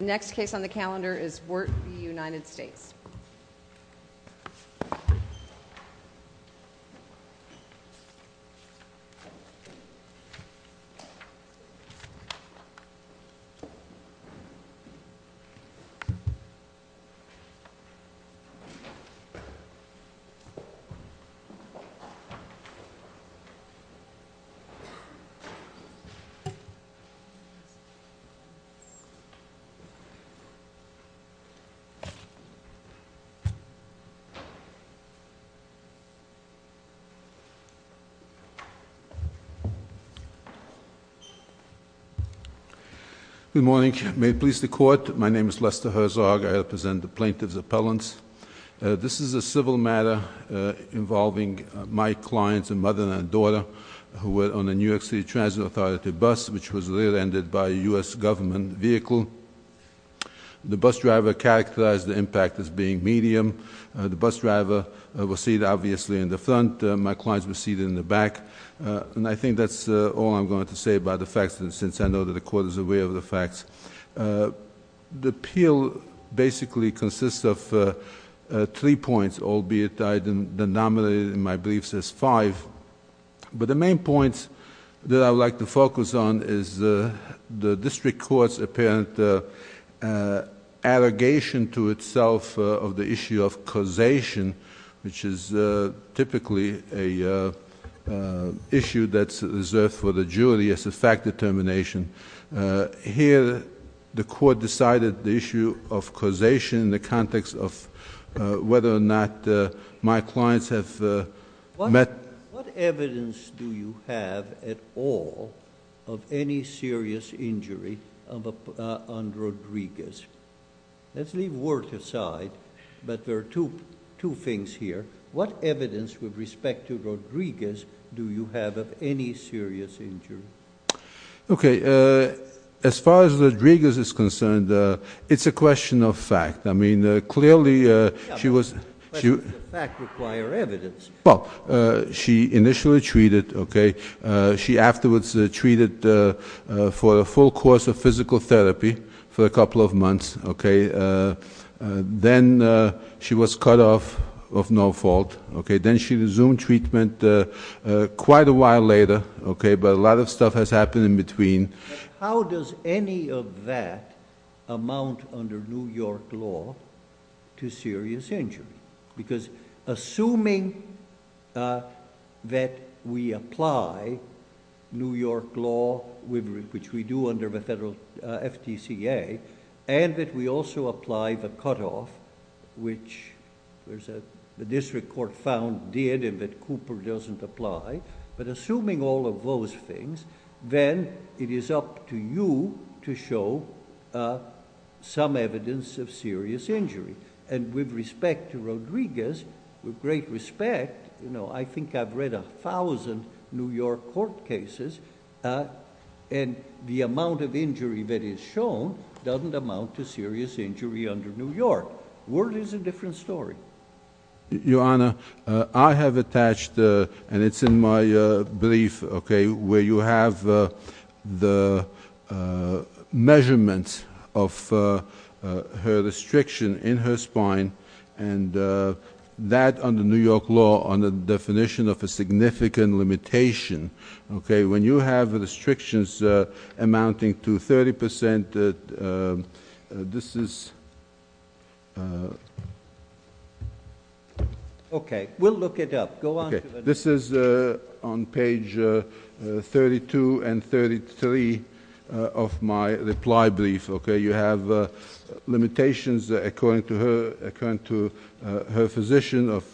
The next case on the calendar is Wirt v. United States. Good morning. May it please the court, my name is Lester Herzog. I represent the plaintiff's appellants. This is a civil matter involving my clients, a mother and a daughter, who were on a New York City Transit Authority bus which was rear-ended by a U.S. government vehicle. The bus driver characterized the impact as being medium. The bus driver was seated obviously in the front. My clients were seated in the back. And I think that's all I'm going to say about the facts since I know that the court is aware of the facts. The appeal basically consists of three points, albeit I denominated my briefs as five. But the main points that I would like to focus on is the district court's apparent allegation to itself of the issue of causation, which is typically an issue that's reserved for the jury as a fact determination. Here, the court decided the issue of causation in the context of whether or not my clients have met... What evidence do you have at all of any serious injury on Rodriguez? Let's leave Wirt aside, but there are two things here. What evidence with respect to Rodriguez do you have of any serious injury? Okay. As far as Rodriguez is concerned, it's a question of fact. I mean, clearly she was... Yeah, but questions of fact require evidence. Well, she initially treated, okay. She afterwards treated for a full course of physical therapy for a couple of months, okay. Then she was cut off of no fault, okay. Then she resumed treatment quite a while later, okay, but a lot of stuff has happened in between. How does any of that amount under New York law to serious injury? Because assuming that we apply New York law, which we do under the federal FDCA, and that we also apply the cutoff, which the district court found did and that Cooper doesn't apply, but assuming all of those things, then it is up to you to show some evidence of serious injury. With respect to Rodriguez, with great respect, I think I've read a thousand New York court cases, and the amount of injury that is shown doesn't amount to serious injury under New York law. The world is a different story. Your Honor, I have attached, and it's in my brief, okay, where you have the measurements of her restriction in her spine and that under New York law, under the definition of a significant limitation, okay, when you have restrictions amounting to 30 percent, this is... Okay. We'll look it up. Go on. Okay. This is on page 32 and 33 of my reply brief, okay. You have limitations according to her physician of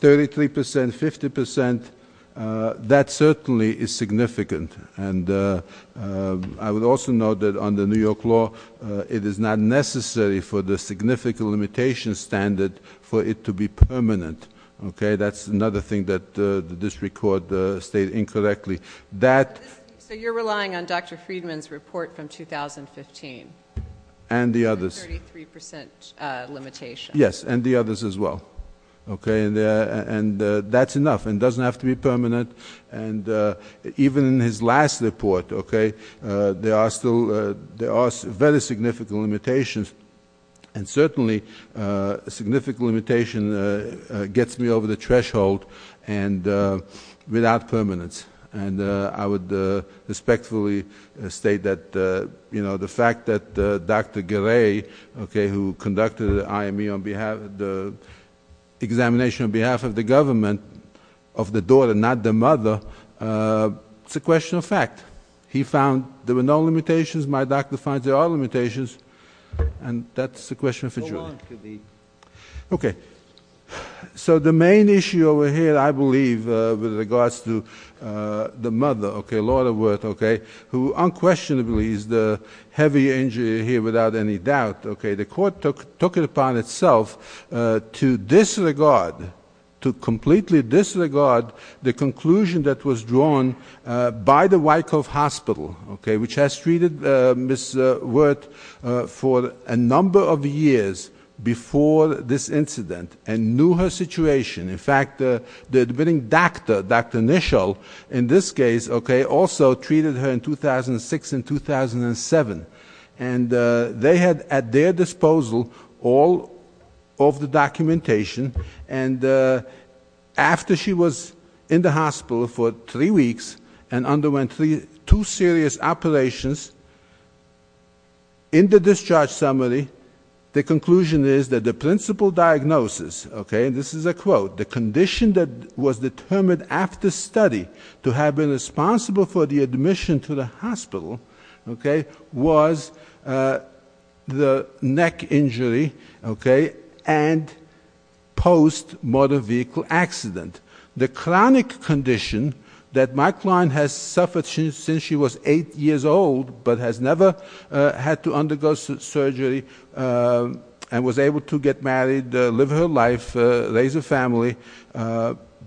33 percent, 50 percent. That certainly is significant. I would also note that under New York law, it is not necessary for the significant limitation standard for it to be permanent, okay? That's another thing that the district court stated incorrectly. So you're relying on Dr. Friedman's report from 2015? And the others. The 33 percent limitation. Yes, and the others as well, okay? And that's enough. It doesn't have to be permanent. And even in his last report, okay, there are still very significant limitations. And certainly a significant limitation gets me over the threshold and without permanence. And I would respectfully state that, you know, the fact that Dr. Gray, okay, who conducted the IME on behalf of the examination on behalf of the government of the daughter, not the mother, it's a question of fact. He found there were no limitations. My doctor finds there are limitations. And that's a question for Julie. Go on, Khabib. Okay. So the main issue over here, I believe, with regards to the mother, okay, Lord of Worth, okay, who unquestionably is the heavy injury here without any doubt, okay, the court took it upon itself to disregard, to completely disregard the conclusion that was drawn by the Wyckoff Hospital, okay, which has treated Ms. Worth for a number of years before this incident and knew her situation. In fact, the admitting doctor, Dr. Nischel, in this case, okay, also treated her in 2006 and 2007. And they had at their disposal all of the two serious operations. In the discharge summary, the conclusion is that the principal diagnosis, okay, and this is a quote, the condition that was determined after study to have been responsible for the admission to the hospital, okay, was the neck injury, okay, and post-motor vehicle accident. The chronic condition that my client has suffered since she was 8 years old but has never had to undergo surgery and was able to get married, live her life, raise a family,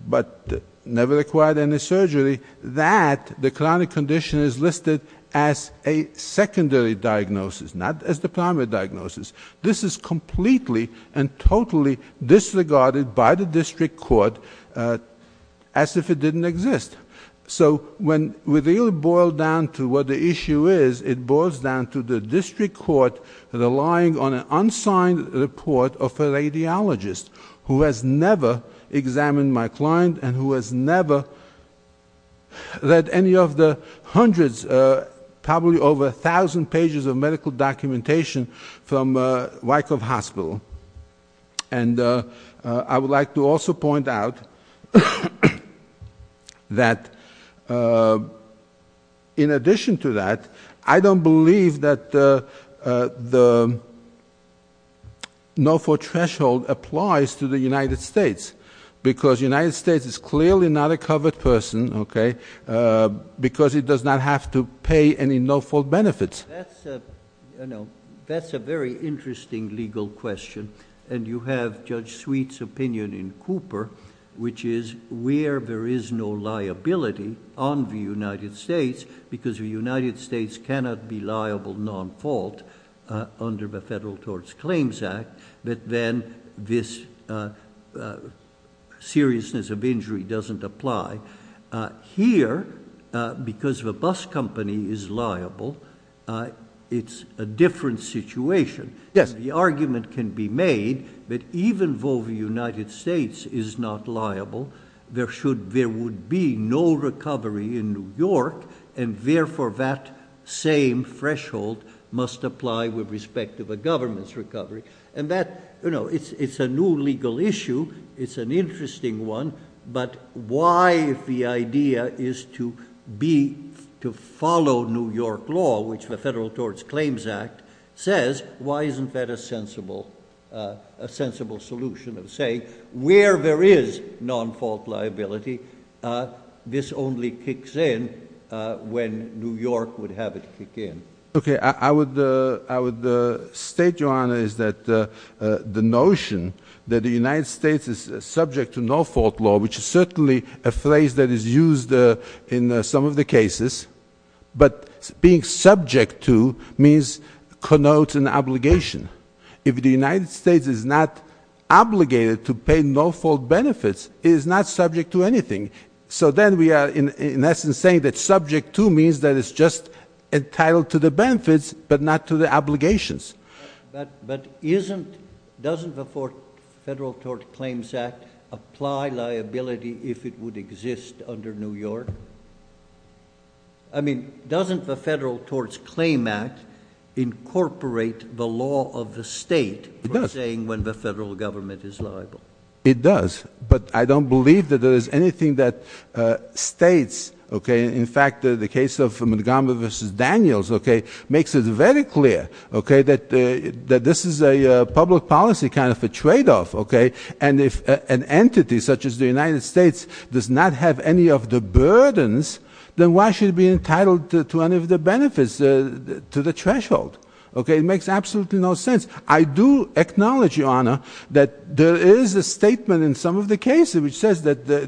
but never acquired any surgery, that, the chronic condition is listed as a disregarded by the district court as if it didn't exist. So when we really boil down to what the issue is, it boils down to the district court relying on an unsigned report of a radiologist who has never examined my client and who has never read any of the hundreds, probably over a thousand pages of medical documentation from Wyckoff Hospital. And I would like to also point out that in addition to that, I don't believe that the no-fault threshold applies to the United States because the United States is clearly not a covered person, okay, because it does not have to pay any no-fault benefits. That's a very interesting legal question, and you have Judge Sweet's opinion in Cooper, which is where there is no liability on the United States because the United States cannot be liable non-fault under the Federal Tort Claims Act, but then this seriousness of injury doesn't apply. Here, because the bus company is liable, it's a different situation. The argument can be made that even though the United States is not liable, there would be no recovery in New York, and therefore that same threshold must apply with respect to the government's recovery. And that, you know, it's a new legal issue. It's an interesting one, but why, if the idea is to follow New York law, which the Federal Tort Claims Act says, why isn't that a sensible solution of saying where there is non-fault liability, this only kicks in when New York would have it kick in? Okay, I would state, Your Honor, is that the notion that the United States is subject to no-fault law, which is certainly a phrase that is used in some of the cases, but being subject to means connotes an obligation. If the United States is not obligated to pay no-fault benefits, it is not subject to the benefits, but not to the obligations. But isn't, doesn't the Federal Tort Claims Act apply liability if it would exist under New York? I mean, doesn't the Federal Tort Claims Act incorporate the law of the state for saying when the federal government is liable? It does, but I don't believe that there is anything that states, okay, in fact, the case of Montgomery v. Daniels, okay, makes it very clear, okay, that this is a public policy kind of a trade-off, okay, and if an entity such as the United States does not have any of the burdens, then why should it be entitled to any of the benefits, to the threshold? Okay, it makes absolutely no sense. I do acknowledge, Your Honor, that there is a statement in some of the cases which says that the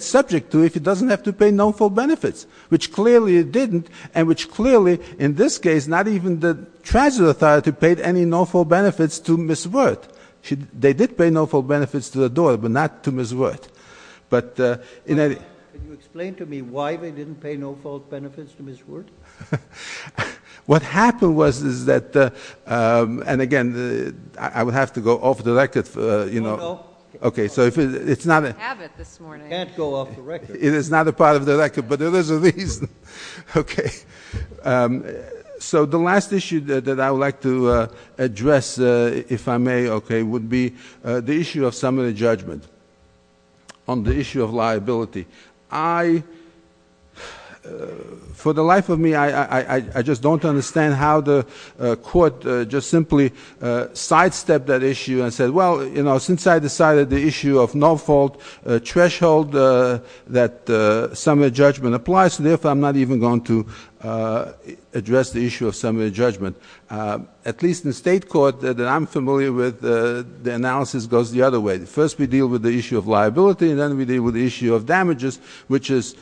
subject to if it doesn't have to pay no-fault benefits, which clearly it didn't, and which clearly, in this case, not even the transit authority paid any no-fault benefits to Ms. Wirth. They did pay no-fault benefits to the door, but not to Ms. Wirth. But in any — Can you explain to me why they didn't pay no-fault benefits to Ms. Wirth? What happened was, is that, and again, I would have to go off the record for, you know — Okay, so if it's not a — We don't have it this morning. Can't go off the record. It is not a part of the record, but there is a reason. Okay, so the last issue that I would like to address, if I may, okay, would be the issue of summary judgment on the issue of liability. I — for the life of me, I just don't understand how the court just simply sidestepped that issue and said, well, you know, since I decided the issue of no-fault threshold that summary judgment applies to, therefore I'm not even going to address the issue of summary judgment. At least in state court that I'm familiar with, the analysis goes the other way. First, we deal with the issue of liability, and then we deal with the issue of damages, which is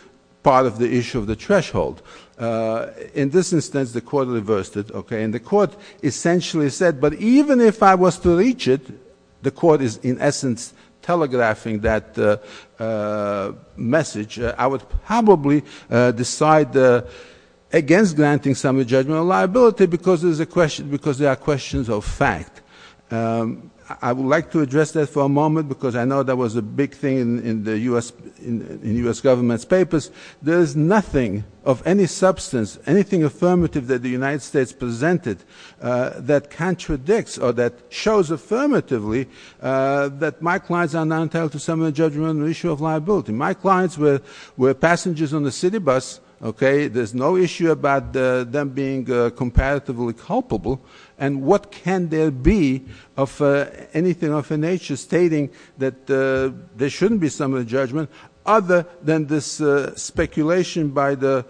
part of the issue of the threshold. In this instance, the court reversed it, okay, and the court essentially said, but even if I was to reach it, the court is in essence telegraphing that message. I would probably decide against granting summary judgment on liability because there are questions of fact. I would like to address that for a moment because I know that was a big thing in the U.S. government's papers. There is nothing of any substance, anything affirmative that the United States presented that contradicts or that shows affirmatively that my clients are not entitled to summary judgment on the issue of liability. My clients were passengers on the city bus, okay. There's no issue about them being comparatively culpable, and what can there be of anything of a nature stating that there shouldn't be summary judgment other than this speculation by the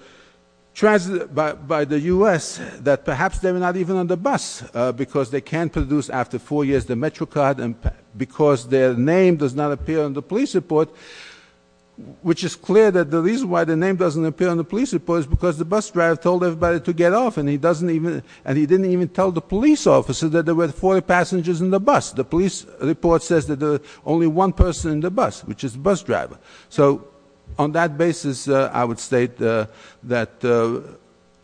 U.S. that perhaps they were not even on the bus because they can't produce after four years the MetroCard and because their name does not appear on the police report, which is clear that the reason why the name doesn't appear on the police report is because the bus driver told everybody to get off, and he didn't even tell the police officers that there were 40 passengers in the bus. The police report says that there's only one person in the bus, which is the bus driver. So on that basis, I would state that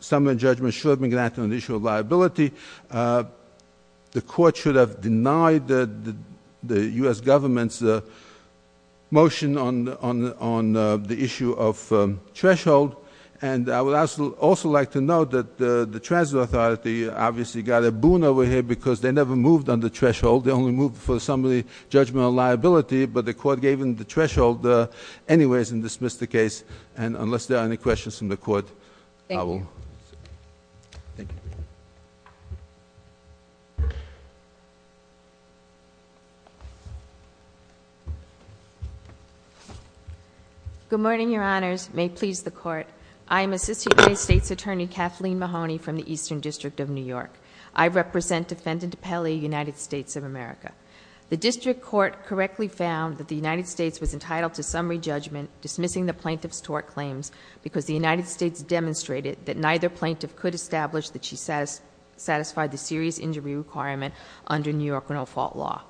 summary judgment should have been granted on the issue of liability. The court should have denied the U.S. government's motion on the issue of threshold, and I would also like to note that the transit authority obviously got a boon over here because they never moved on the threshold, they only moved for the summary judgment on liability, but the court gave them the threshold anyways and dismissed the case. And unless there are any questions from the court, I will- Thank you. Thank you. Good morning, your honors. May it please the court. I am Assistant United States Attorney Kathleen Mahoney from the Eastern District of New York. I represent Defendant Pele, United States of America. The district court correctly found that the United States was entitled to summary judgment, dismissing the plaintiff's tort claims because the United States demonstrated that neither plaintiff could establish that she satisfied the serious injury requirement under New York rental fault law.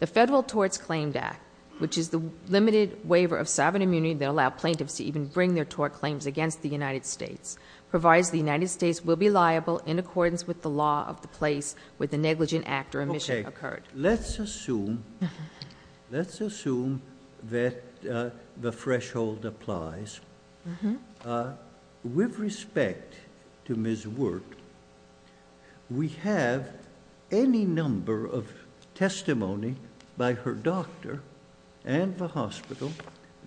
The Federal Torts Claim Act, which is the limited waiver of sovereign immunity that allowed plaintiffs to even bring their tort claims against the United States, provides the United States will be liable in accordance with the law of the place where the negligent act or omission occurred. Okay. Let's assume... Let's assume that the threshold applies. With respect to Ms. Wert, we have any number of testimony by her doctor and the hospital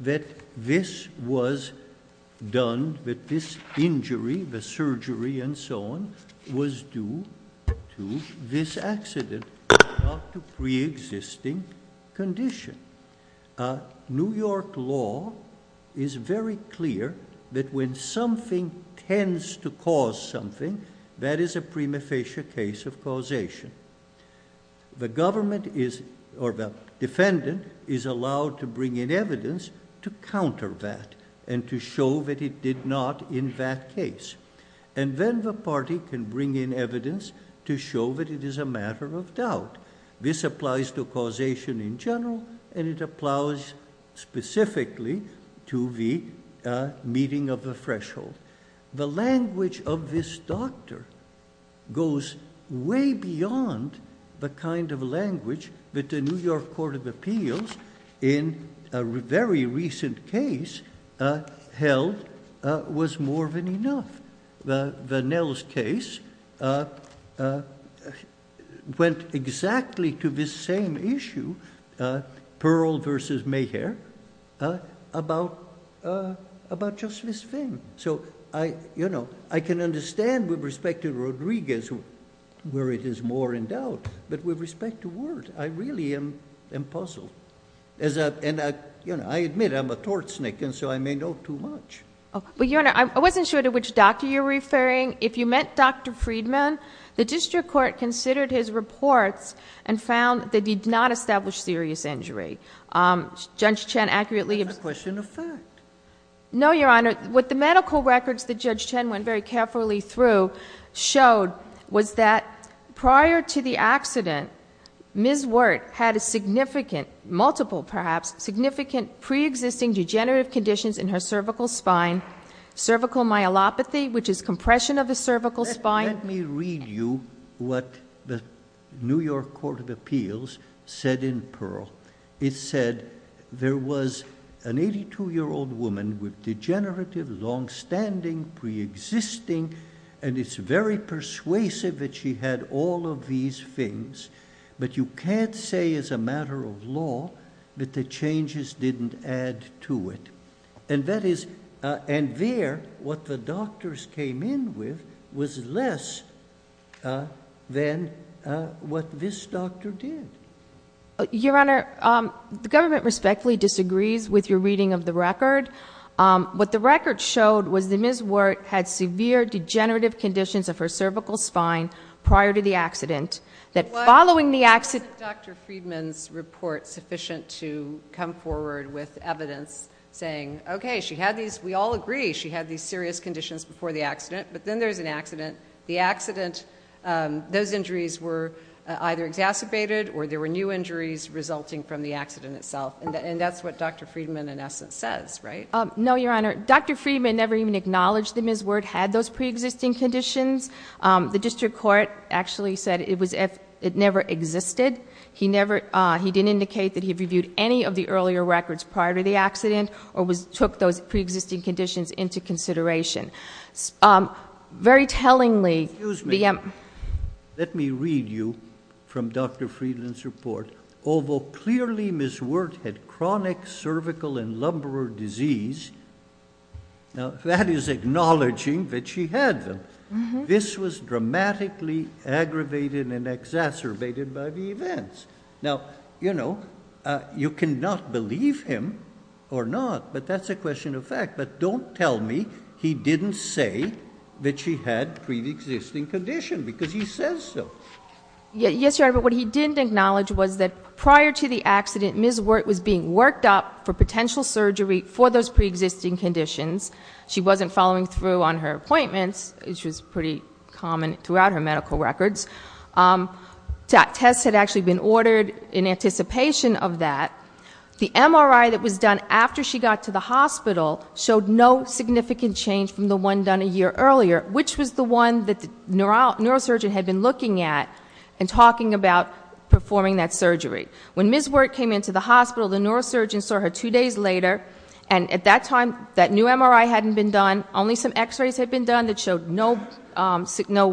that this was done, that this injury, the surgery and so on, was due to this accident, not to preexisting condition. New York law is very clear that when something tends to cause something, that is a prima facie case of causation. The defendant is allowed to bring in evidence to counter that and to show that it did not in that case. Then the party can bring in evidence to show that it is a matter of doubt. This applies to causation in general and it applies specifically to the meeting of the threshold. The language of this doctor goes way beyond the kind of language that the New York Court of Appeals in a very recent case held was more than enough. Vanell's case went exactly to this same issue, Pearl versus Mayher, about just this thing. I can understand with respect to Rodriguez where it is more in doubt, but with respect to Wert, I really am puzzled. I admit I'm a tort snake and so I may know too much. Your Honor, I wasn't sure to which doctor you're referring. If you meant Dr. Friedman, the district court considered his reports and found they did not establish serious injury. Judge Chen accurately... That's a question of fact. No, Your Honor. What the medical records that Judge Chen went very carefully through showed was that prior to the accident, Ms. Wert had a significant, multiple perhaps, significant pre-existing degenerative conditions in her cervical spine, cervical myelopathy, which is compression of the cervical spine. Let me read you what the New York Court of Appeals said in Pearl. It said there was an 82-year-old woman with degenerative, long-standing, pre-existing, and it's very persuasive that she had all of these things, but you can't say as a matter of law that the changes didn't add to it. And that is... and there, what the doctors came in with was less than what this doctor did. Your Honor, the government respectfully disagrees with your reading of the record. What the record showed was that Ms. Wert had severe degenerative conditions of her cervical spine prior to the accident, that following the accident... Wasn't Dr. Friedman's report sufficient to come forward with evidence saying, okay, she had these... we all agree she had these serious conditions before the accident, but then there's an accident. The accident... those injuries were either exacerbated or there were new injuries resulting from the accident itself. And that's what Dr. Friedman, in essence, says, right? No, Your Honor. Dr. Friedman never even acknowledged that Ms. Wert had those pre-existing conditions. The district court actually said it was if... it never existed. He never... he didn't indicate that he reviewed any of the earlier records prior to the accident or took those pre-existing conditions into consideration. Very tellingly... Excuse me. Let me read you from Dr. Friedman's report. Although clearly Ms. Wert had chronic cervical and lumbar disease... Now, that is acknowledging that she had them. This was dramatically aggravated and exacerbated by the events. Now, you know, you cannot believe him or not, but that's a question of fact. But don't tell me he didn't say that she had pre-existing conditions, because he says so. Yes, Your Honor. But what he didn't acknowledge was that prior to the accident, Ms. Wert was being worked up for potential surgery for those pre-existing conditions. She wasn't following through on her appointments, which was pretty common throughout her medical records. Tests had actually been ordered in anticipation of that. The MRI that was done after she got to the hospital showed no significant change from the one done a year earlier, which was the one that the neurosurgeon had been looking at and talking about performing that surgery. When Ms. Wert came into the hospital, the neurosurgeon saw her two days later. And at that time, that new MRI hadn't been done. Only some x-rays had been done that showed no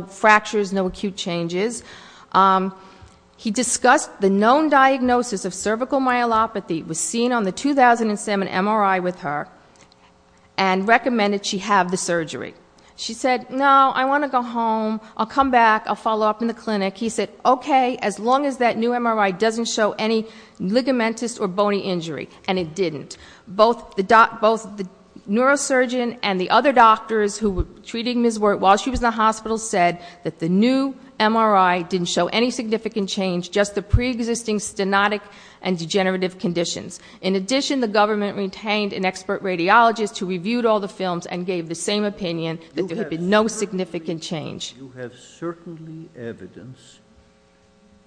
fractures, no acute changes. He discussed the known diagnosis of cervical myelopathy, was seen on the 2007 MRI with her, and recommended she have the surgery. She said, no, I want to go home. I'll come back. I'll follow up in the clinic. He said, okay, as long as that new MRI doesn't show any ligamentous or bony injury. And it didn't. Both the neurosurgeon and the other doctors who were treating Ms. Wert while she was in the hospital said that the new MRI didn't show any significant change, just the preexisting stenotic and degenerative conditions. In addition, the government retained an expert radiologist who reviewed all the films and gave the same opinion, that there had been no significant change. You have certainly evidence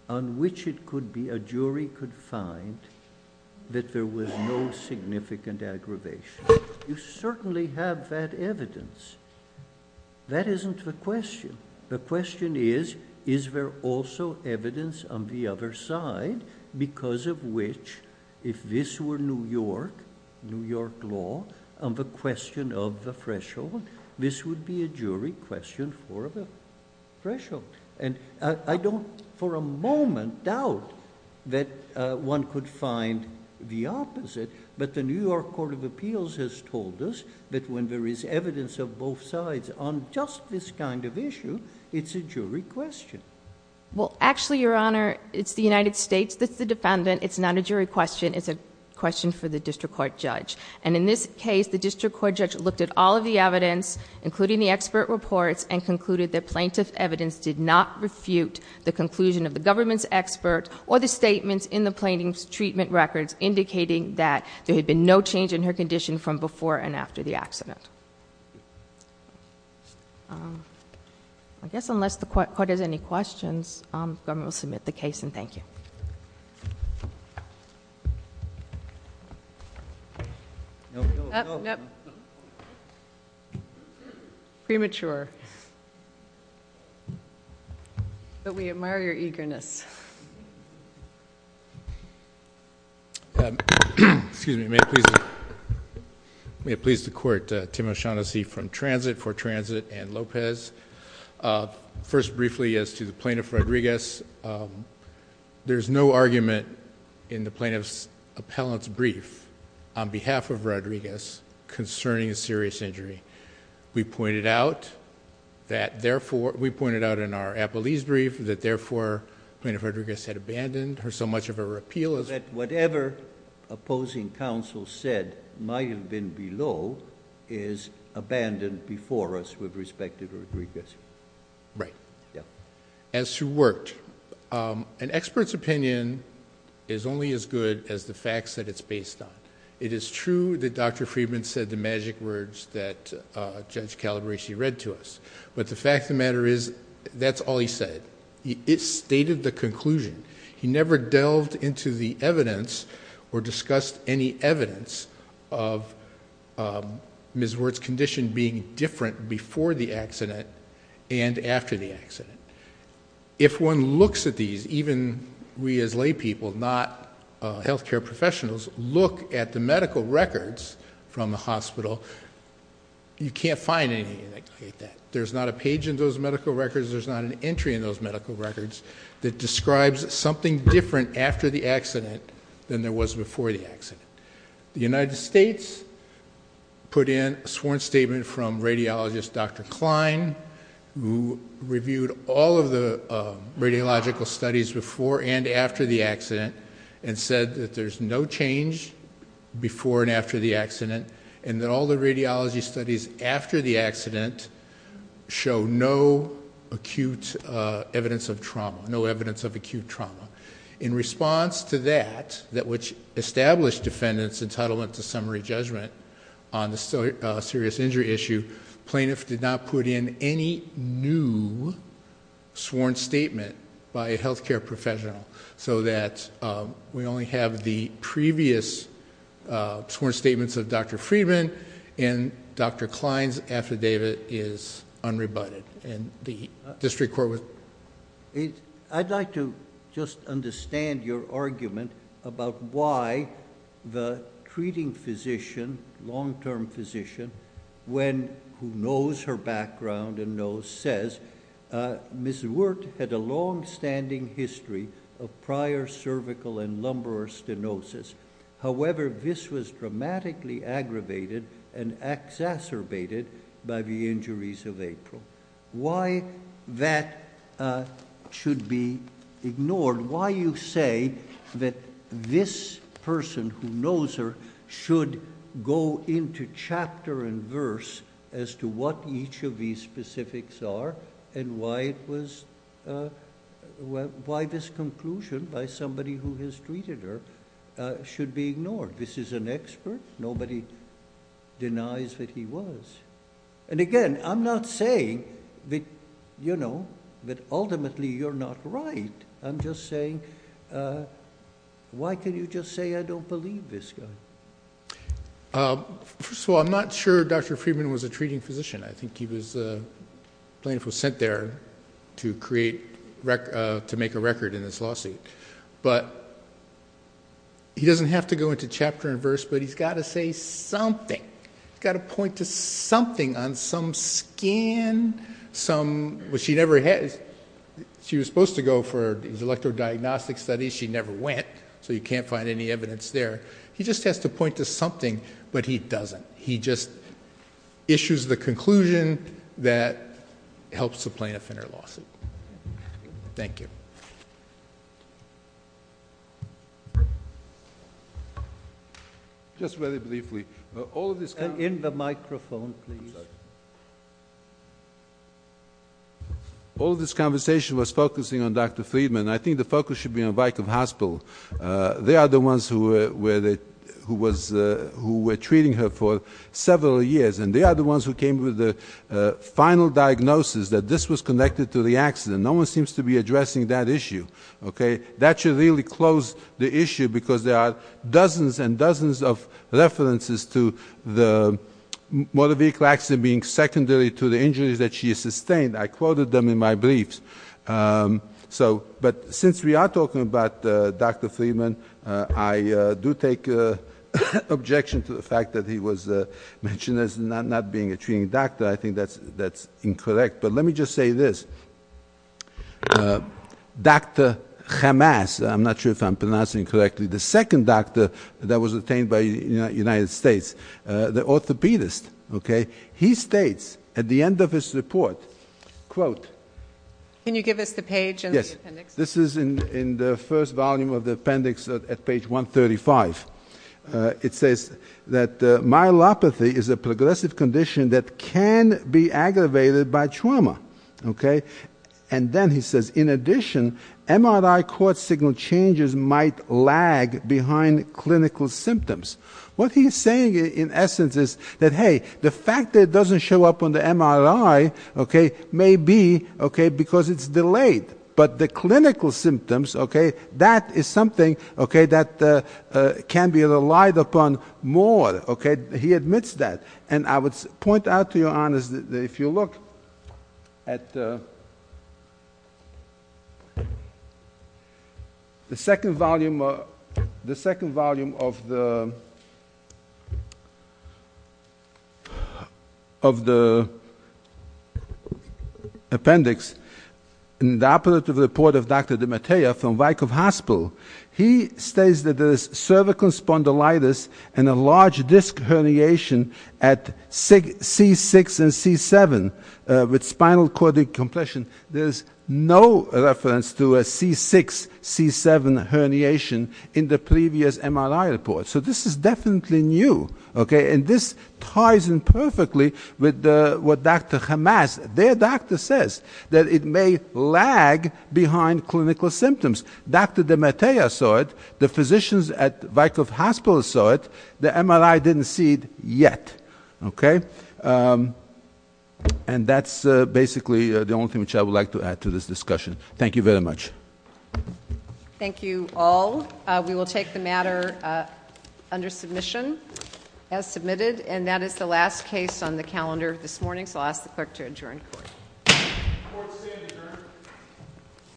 on which it could be a jury could find that there was no significant aggravation. You certainly have that evidence. That isn't the question. The question is, is there also evidence on the other side because of which, if this were New York, New York law, on the question of the threshold, this would be a jury question for the threshold. And I don't, for a moment, doubt that one could find the opposite. But the New York Court of Appeals has told us that when there is evidence of both sides on just this kind of issue, it's a jury question. Well, actually, Your Honor, it's the United States that's the defendant. It's not a jury question. It's a question for the district court judge. And in this case, the district court judge looked at all of the evidence, including the expert reports, and concluded that plaintiff evidence did not refute the conclusion of the government's expert or the statements in the plaintiff's treatment records indicating that there had been no change in her condition from before and after the accident. I guess unless the court has any questions, the government will submit the case, and thank you. Nope. Premature. But we admire your eagerness. Excuse me. May it please the court, Tim O'Shaughnessy from Transit for Transit and Lopez. First, briefly, as to the plaintiff, Rodriguez, there's no argument in the plaintiff's appellant's brief on behalf of Rodriguez concerning a serious injury. We pointed out that therefore... we pointed out in our Appleese brief that therefore, Plaintiff Rodriguez had abandoned her so much of her appeal as... That whatever opposing counsel said might have been below is abandoned before us with respect to Rodriguez. Right. Yeah. As to Wirt, an expert's opinion is only as good as the facts that it's based on. It is true that Dr. Friedman said the magic words that Judge Calabresi read to us, but the fact of the matter is that's all he said. He stated the conclusion. He never delved into the evidence or discussed any evidence of Ms. Wirt's condition being different before the accident and after the accident. If one looks at these, even we as laypeople, not health care professionals, look at the medical records from the hospital, you can't find anything like that. There's not a page in those medical records. There's not an entry in those medical records that describes something different after the accident than there was before the accident. The United States put in a sworn statement from radiologist Dr. Klein, who reviewed all of the radiological studies before and after the accident and said that there's no change before and after the accident and that all the radiology studies after the accident show no acute evidence of trauma, no evidence of acute trauma. In response to that, which established defendant's entitlement to summary judgment on the serious injury issue, plaintiff did not put in any new sworn statement by a health care professional so that we only have the previous sworn statements of Dr. Friedman and Dr. Klein's affidavit is unrebutted. I'd like to just understand your argument about why the treating physician, long-term physician, who knows her background and knows, says, Ms. Wirt had a long-standing history of prior cervical and lumbar stenosis. However, this was dramatically aggravated and exacerbated by the injuries of April. Why that should be ignored? Why you say that this person who knows her should go into chapter and verse as to what each of these specifics are and why this conclusion by somebody who has treated her should be ignored? This is an expert. Nobody denies that he was. Again, I'm not saying that ultimately you're not right. I'm just saying, why can you just say I don't believe this guy? First of all, I'm not sure Dr. Friedman was a treating physician. I think the plaintiff was sent there to make a record in this lawsuit, but he doesn't have to go into chapter and verse, but he's got to say something. He's got to point to something on some skin, but she was supposed to go for his electrodiagnostic studies. She never went, so you can't find any evidence there. He just has to point to something, but he doesn't. He just issues the conclusion that helps the plaintiff in her lawsuit. Thank you. Just very briefly. In the microphone, please. All of this conversation was focusing on Dr. Friedman. I think the focus should be on Wyckoff Hospital. They are the ones who were treating her for several years, and they are the ones who came with the final diagnosis that this was connected to the accident. No one seems to be addressing that issue. That should really close the issue because there are dozens and dozens of references to the motor vehicle accident being secondary to the injuries that she sustained. I quoted them in my briefs, but since we are talking about Dr. Friedman, I do take objection to the fact that he was mentioned as not being a treating doctor. I think that's incorrect, but let me just say this. Dr. Hamas, I'm not sure if I'm pronouncing it correctly, the second doctor that was obtained by the United States, the orthopedist, he states at the end of his report, Can you give us the page and the appendix? This is in the first volume of the appendix at page 135. It says that myelopathy is a progressive condition that can be aggravated by trauma. And then he says, in addition, MRI cord signal changes might lag behind clinical symptoms. What he's saying in essence is that, hey, the fact that it doesn't show up on the MRI may be because it's delayed. But the clinical symptoms, that is something that can be relied upon more. He admits that. And I would point out to your honors that if you look at the second volume of the appendix in the operative report of Dr. DeMattea from Wyckoff Hospital, he states that there is cervical spondylitis and a large disc herniation at C6 and C7 with spinal cord compression. There is no reference to a C6, C7 herniation in the previous MRI report. So this is definitely new. And this ties in perfectly with what Dr. Hamas, their doctor, says, that it may lag behind clinical symptoms. Dr. DeMattea saw it. The physicians at Wyckoff Hospital saw it. The MRI didn't see it yet. And that's basically the only thing which I would like to add to this discussion. Thank you very much. Thank you all. We will take the matter under submission as submitted. And that is the last case on the calendar this morning, so I'll ask the clerk to adjourn.